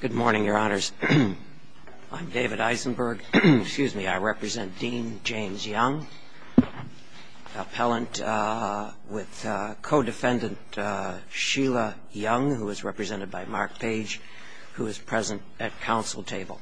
Good morning, Your Honors. I'm David Eisenberg. Excuse me. I represent Dean James Young, appellant with co-defendant Sheila Young, who is represented by Mark Page, who is present at counsel table.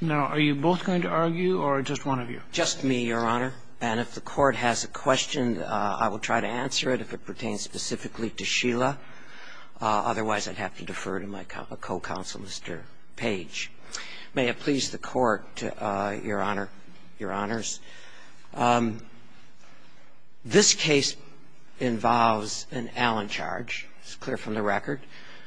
Now, are you both going to argue or just one of you? Just me, Your Honor. And if the Court has a question, I will try to answer it if it pertains specifically to Sheila. Otherwise, I'd have to defer to my co-counsel, Mr. Page. May it please the Court, Your Honor, Your Honors. This case involves an Allen charge. It's clear from the record.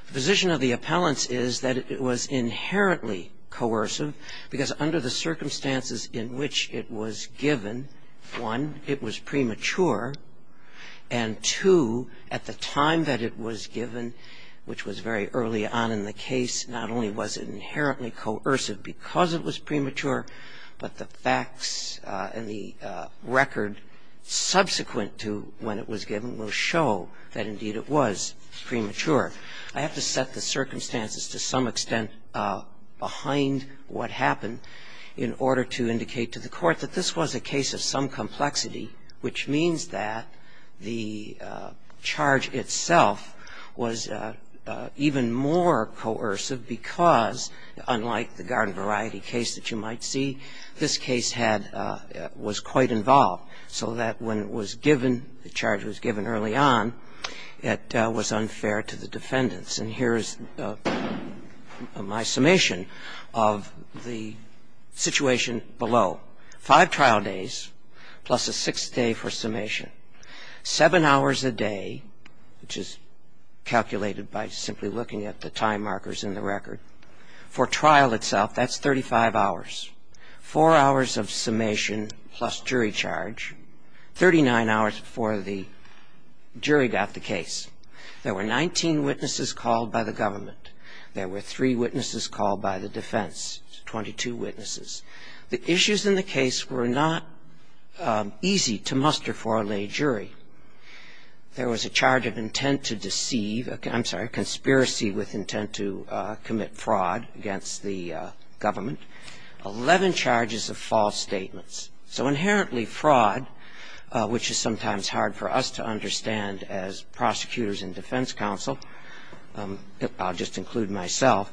The position of the appellants is that it was inherently coercive because under the circumstances in which it was given, one, it was premature, and two, at the time that it was given, which was very early on in the case, not only was it inherently coercive because it was premature, but the facts and the record subsequent to when it was given will show that, indeed, it was premature. I have to set the circumstances to some extent behind what happened in order to indicate to the Court that this was a case of some complexity, which means that the charge itself was even more coercive because, unlike the garden variety case that you might see, this case had – was quite involved, so that when it was given, the charge was given early on, it was unfair to the defendants. And here is my summation of the situation below. Five trial days plus a sixth day for summation. Seven hours a day, which is calculated by simply looking at the time markers in the record, for trial itself, that's 35 hours. Four hours of summation plus jury charge, 39 hours before the jury got the case. There were 19 witnesses called by the government. There were three witnesses called by the defense, 22 witnesses. The issues in the case were not easy to muster for a lay jury. There was a charge of intent to deceive – I'm sorry, conspiracy with intent to commit fraud against the government. Eleven charges of false statements. So inherently fraud, which is sometimes hard for us to understand as prosecutors and defense counsel, I'll just include myself,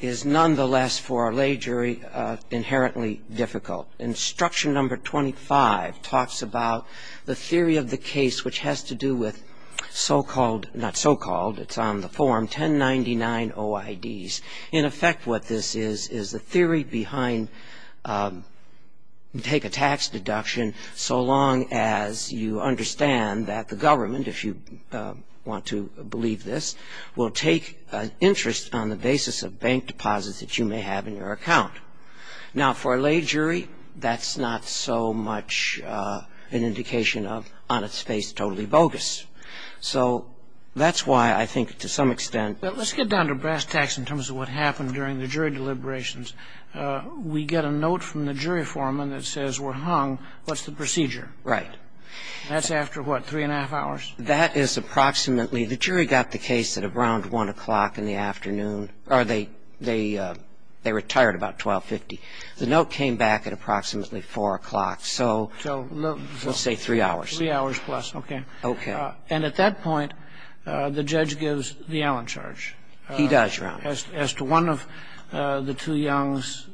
is nonetheless for a lay jury inherently difficult. Instruction number 25 talks about the theory of the case, which has to do with so-called – not so-called, it's on the form – 1099 OIDs. In effect, what this is, is the theory behind take a tax deduction so long as you understand that the government, if you want to believe this, will take an interest on the basis of bank deposits that you may have in your account. Now, for a lay jury, that's not so much an indication of on its face totally bogus. So that's why I think to some extent – I think to some extent, it's an indication of what happened during the jury deliberations. We get a note from the jury foreman that says we're hung. What's the procedure? Right. That's after, what, three and a half hours? That is approximately – the jury got the case at around 1 o'clock in the afternoon, or they retired about 12.50. The note came back at approximately 4 o'clock, so let's say three hours. Three hours plus, okay. Okay. And at that point, the judge gives the Allen charge. He does, Your Honor. As to one of the two youngs,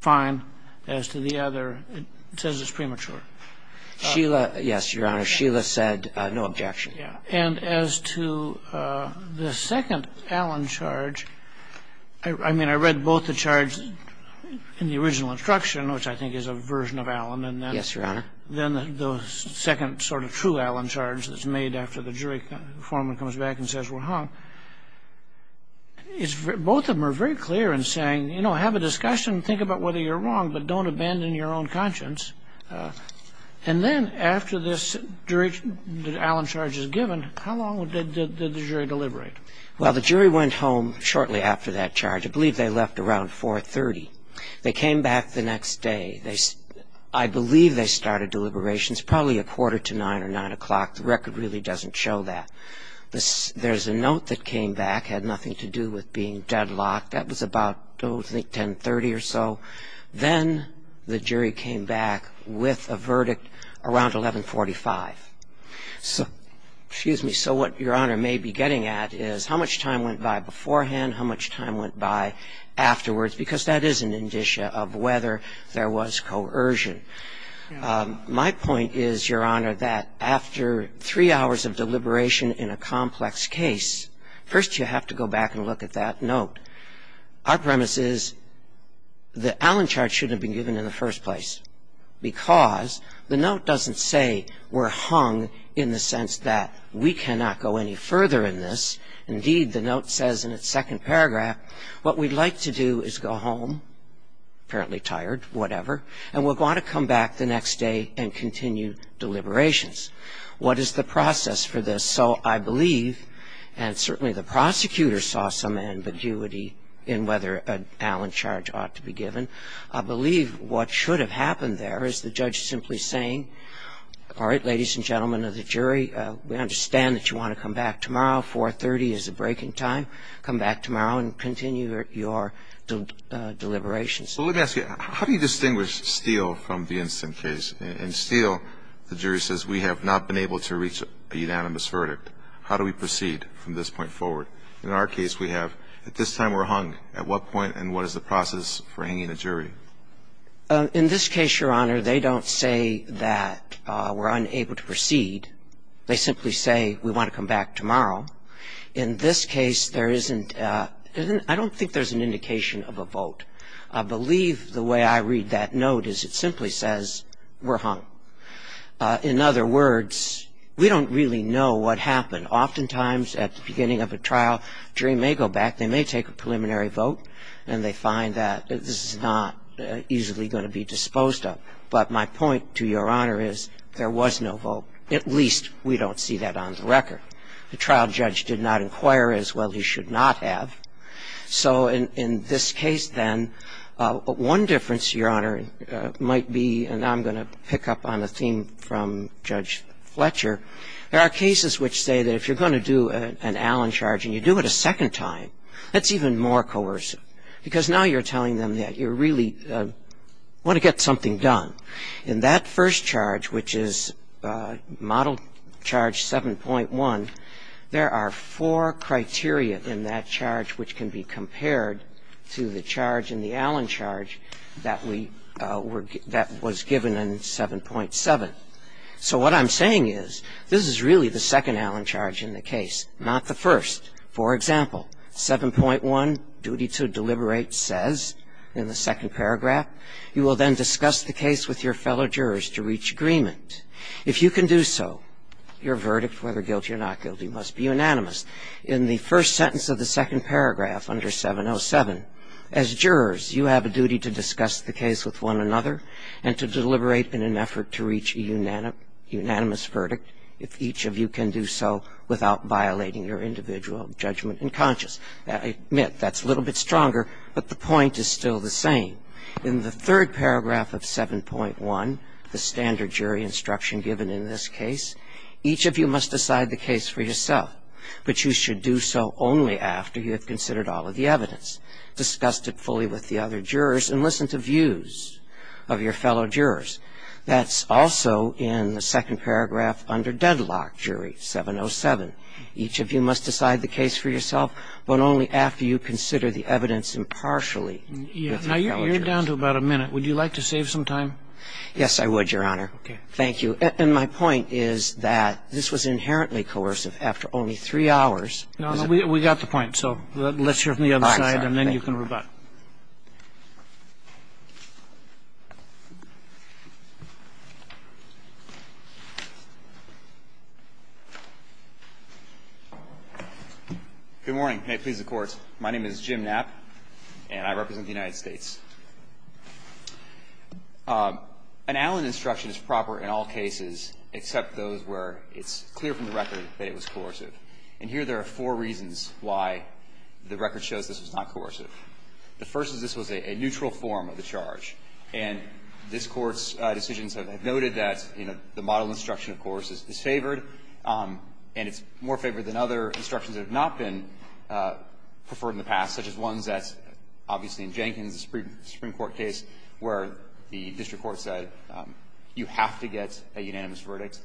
fine. As to the other, it says it's premature. Sheila – yes, Your Honor. Sheila said no objection. And as to the second Allen charge, I mean, I read both the charge in the original instruction, which I think is a version of Allen. Yes, Your Honor. Then the second sort of true Allen charge that's made after the jury foreman comes back and says we're hung, both of them are very clear in saying, you know, have a discussion, think about whether you're wrong, but don't abandon your own conscience. And then after this jury – the Allen charge is given, how long did the jury deliberate? Well, the jury went home shortly after that charge. I believe they left around 4.30. They came back the next day. I believe they started deliberations probably a quarter to 9 or 9 o'clock. The record really doesn't show that. There's a note that came back, had nothing to do with being deadlocked. That was about, oh, I think 10.30 or so. Then the jury came back with a verdict around 11.45. So – excuse me. So what Your Honor may be getting at is how much time went by beforehand, how much time went by afterwards, because that is an indicia of whether there was coercion. My point is, Your Honor, that after three hours of deliberation in a complex case, first you have to go back and look at that note. Our premise is the Allen charge shouldn't have been given in the first place because the note doesn't say we're hung in the sense that we cannot go any further in this. Indeed, the note says in its second paragraph, what we'd like to do is go home, apparently tired, whatever, and we're going to come back the next day and continue deliberations. What is the process for this? So I believe, and certainly the prosecutor saw some ambiguity in whether an Allen charge ought to be given. I believe what should have happened there is the judge simply saying, all right, ladies and gentlemen of the jury, we understand that you want to come back tomorrow. 430 is the breaking time. Come back tomorrow and continue your deliberations. So let me ask you, how do you distinguish Steele from the instant case? In Steele, the jury says we have not been able to reach a unanimous verdict. How do we proceed from this point forward? In our case, we have at this time we're hung. At what point and what is the process for hanging a jury? In this case, Your Honor, they don't say that we're unable to proceed. They simply say we want to come back tomorrow. In this case, there isn't, I don't think there's an indication of a vote. I believe the way I read that note is it simply says we're hung. In other words, we don't really know what happened. Oftentimes at the beginning of a trial, jury may go back, they may take a preliminary vote, and they find that this is not easily going to be disposed of. But my point to Your Honor is there was no vote. At least we don't see that on the record. The trial judge did not inquire as well he should not have. So in this case then, one difference, Your Honor, might be, and I'm going to pick up on a theme from Judge Fletcher, there are cases which say that if you're going to do an Allen charge and you do it a second time, that's even more coercive because now you're telling them that you really want to get something done. In that first charge, which is Model Charge 7.1, there are four criteria in that charge which can be compared to the charge in the Allen charge that was given in 7.7. So what I'm saying is this is really the second Allen charge in the case, not the first. For example, 7.1, duty to deliberate says in the second paragraph, you will then discuss the case with your fellow jurors to reach agreement. If you can do so, your verdict, whether guilty or not guilty, must be unanimous. In the first sentence of the second paragraph under 707, as jurors, you have a duty to discuss the case with one another and to deliberate in an effort to reach a unanimous verdict if each of you can do so without violating your individual judgment and conscience. I admit that's a little bit stronger, but the point is still the same. In the third paragraph of 7.1, the standard jury instruction given in this case, each of you must decide the case for yourself, but you should do so only after you have considered all of the evidence, discussed it fully with the other jurors, and listened to views of your fellow jurors. That's also in the second paragraph under deadlock jury, 707. Each of you must decide the case for yourself, but only after you consider the evidence impartially with the fellow jurors. Now, you're down to about a minute. Would you like to save some time? Yes, I would, Your Honor. Okay. Thank you. And my point is that this was inherently coercive. After only three hours we got the point. So let's hear from the other side, and then you can rebut. Mr. Napp. Good morning. May it please the Court. My name is Jim Napp, and I represent the United States. An Allen instruction is proper in all cases except those where it's clear from the record that it was coercive. And here there are four reasons why the record shows this was not coercive. The first is this was a neutral form of the charge. And this Court's decisions have noted that, you know, the model instruction, of course, is disfavored, and it's more favored than other instructions that have not been preferred in the past, such as ones that, obviously, in Jenkins' Supreme Court case where the district court said you have to get a unanimous verdict,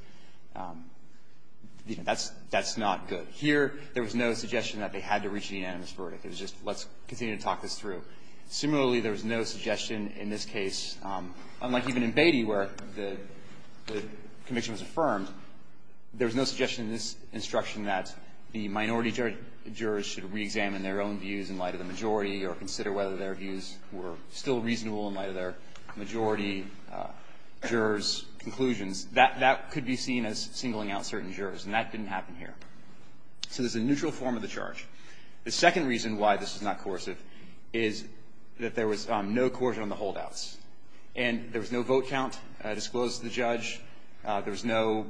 you know, that's not good. Here there was no suggestion that they had to reach a unanimous verdict. It was just let's continue to talk this through. Similarly, there was no suggestion in this case, unlike even in Beatty where the conviction was affirmed, there was no suggestion in this instruction that the minority jurors should reexamine their own views in light of the majority or consider whether their seen as singling out certain jurors, and that didn't happen here. So there's a neutral form of the charge. The second reason why this was not coercive is that there was no coercion on the holdouts. And there was no vote count disclosed to the judge. There was no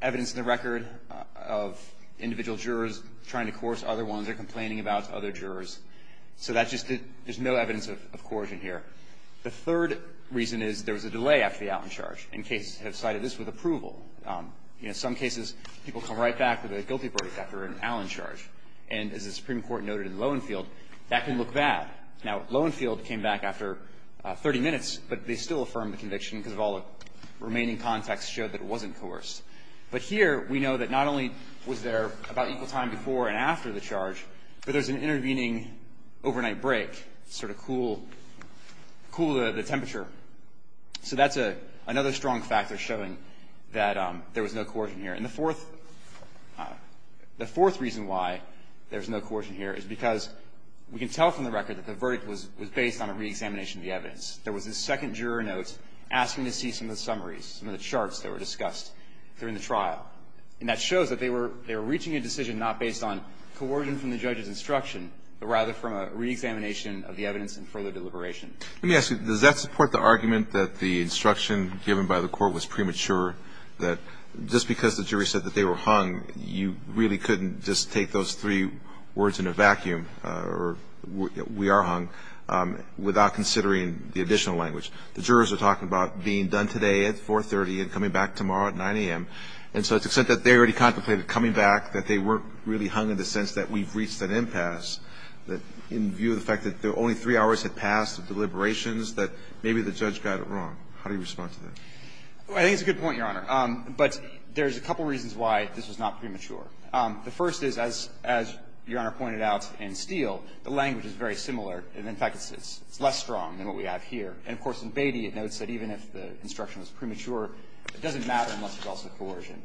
evidence in the record of individual jurors trying to coerce other ones or complaining about other jurors. So that's just a – there's no evidence of coercion here. The third reason is there was a delay after the Allen charge. And cases have cited this with approval. In some cases, people come right back with a guilty verdict after an Allen charge. And as the Supreme Court noted in Lowenfield, that can look bad. Now, Lowenfield came back after 30 minutes, but they still affirmed the conviction because all the remaining context showed that it wasn't coerced. But here we know that not only was there about equal time before and after the charge, but there's an intervening overnight break to sort of cool the temperature. So that's another strong factor showing that there was no coercion here. And the fourth reason why there's no coercion here is because we can tell from the record that the verdict was based on a reexamination of the evidence. There was a second juror note asking to see some of the summaries, some of the charts that were discussed during the trial. And that shows that they were reaching a decision not based on coercion from the judge's instruction, but rather from a reexamination of the evidence and further deliberation. Let me ask you. Does that support the argument that the instruction given by the court was premature, that just because the jury said that they were hung, you really couldn't just take those three words in a vacuum, or we are hung, without considering the additional language? The jurors are talking about being done today at 430 and coming back tomorrow at 9 a.m. And so to the extent that they already contemplated coming back, that they weren't really hung in the sense that we've reached an impasse, that in view of the fact that only three hours had passed of deliberations, that maybe the judge got it wrong. How do you respond to that? I think it's a good point, Your Honor. But there's a couple reasons why this was not premature. The first is, as Your Honor pointed out in Steele, the language is very similar. In fact, it's less strong than what we have here. And, of course, in Beatty it notes that even if the instruction was premature, it doesn't matter unless there's also coercion.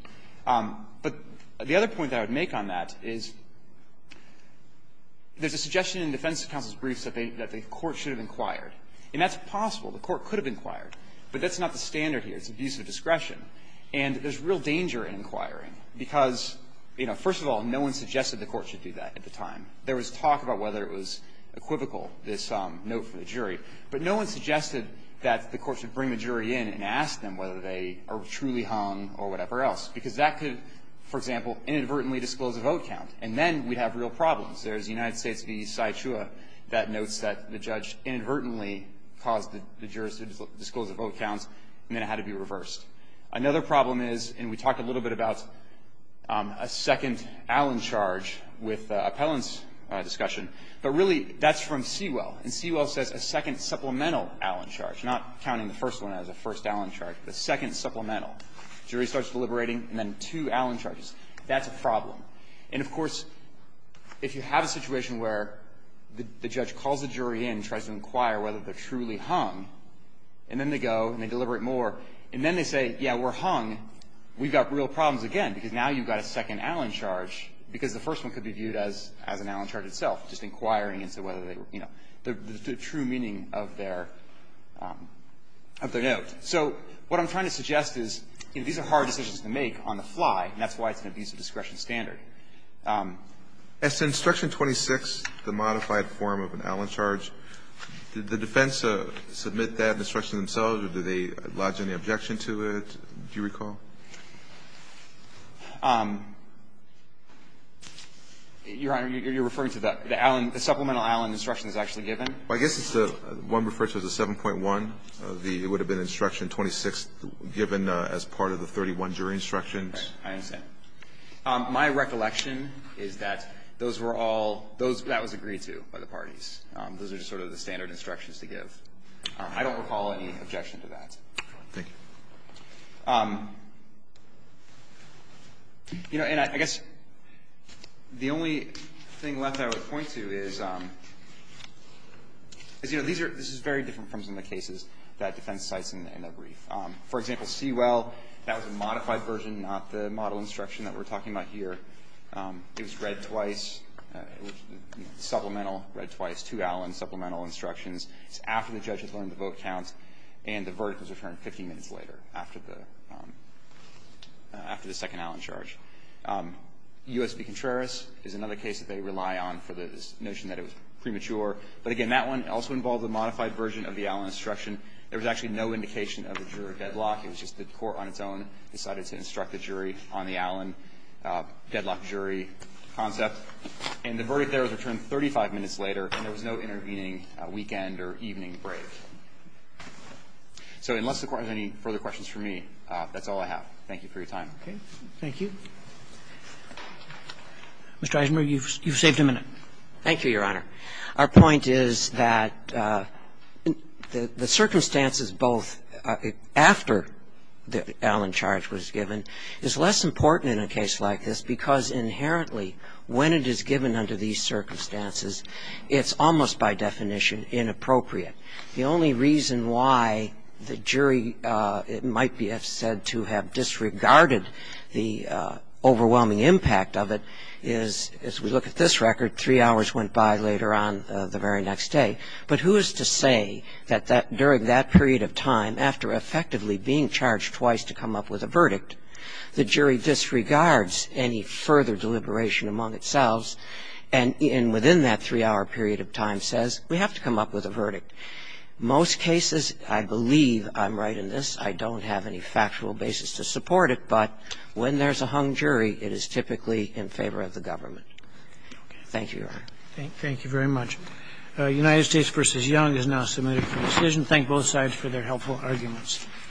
But the other point that I would make on that is there's a suggestion in defense counsel's briefs that the court should have inquired. And that's possible. The court could have inquired. But that's not the standard here. It's abuse of discretion. And there's real danger in inquiring because, you know, first of all, no one suggested the court should do that at the time. There was talk about whether it was equivocal, this note from the jury. But no one suggested that the court should bring the jury in and ask them whether they are truly hung or whatever else. Because that could, for example, inadvertently disclose a vote count. And then we'd have real problems. There's the United States v. Sy Chua that notes that the judge inadvertently caused the jurors to disclose the vote counts, and then it had to be reversed. Another problem is, and we talked a little bit about a second Allen charge with appellant's discussion, but really that's from Sewell. And Sewell says a second supplemental Allen charge, not counting the first one as a first Allen charge, but a second supplemental. The jury starts deliberating, and then two Allen charges. That's a problem. And, of course, if you have a situation where the judge calls the jury in and tries to inquire whether they're truly hung, and then they go and they deliberate more, and then they say, yeah, we're hung, we've got real problems again because now you've got a second Allen charge because the first one could be viewed as an Allen charge itself, just inquiring as to whether they were, you know, the true meaning of their note. So what I'm trying to suggest is, you know, these are hard decisions to make on the fly, and that's why it's an abuse of discretion standard. Alitoso, did the defense submit that instruction themselves, or did they lodge any objection to it, do you recall? You're referring to the Allen, the supplemental Allen instructions actually given? Well, I guess it's the one referred to as the 7.1, it would have been instruction 26 given as part of the 31 jury instructions. Right. I understand. My recollection is that those were all, that was agreed to by the parties. Those are just sort of the standard instructions to give. I don't recall any objection to that. Thank you. You know, and I guess the only thing left I would point to is, you know, these are, this is very different from some of the cases that defense cites in the brief. For example, Sewell, that was a modified version, not the model instruction that we're talking about here. It was read twice, supplemental read twice, two Allen supplemental instructions. It's after the judge had learned the vote counts, and the verdict was returned 15 minutes later after the second Allen charge. U.S. v. Contreras is another case that they rely on for this notion that it was premature. But again, that one also involved a modified version of the Allen instruction. There was actually no indication of a jury deadlock. It was just the court on its own decided to instruct the jury on the Allen deadlock jury concept. And the verdict there was returned 35 minutes later, and there was no intervening weekend or evening break. So unless the Court has any further questions for me, that's all I have. Thank you for your time. Okay. Thank you. Mr. Eisenberg, you've saved a minute. Thank you, Your Honor. Our point is that the circumstances both after the Allen charge was given is less important in a case like this because inherently when it is given under these circumstances, it's almost by definition inappropriate. The only reason why the jury might be said to have disregarded the overwhelming impact of it is, as we look at this record, three hours went by later on the very next day. But who is to say that during that period of time, after effectively being charged twice to come up with a verdict, the jury disregards any further deliberation among itself? And within that three-hour period of time says, we have to come up with a verdict. Most cases, I believe I'm right in this. I don't have any factual basis to support it, but when there's a hung jury, it is typically in favor of the government. Thank you, Your Honor. Thank you very much. United States v. Young is now submitted for decision. Thank both sides for their helpful arguments.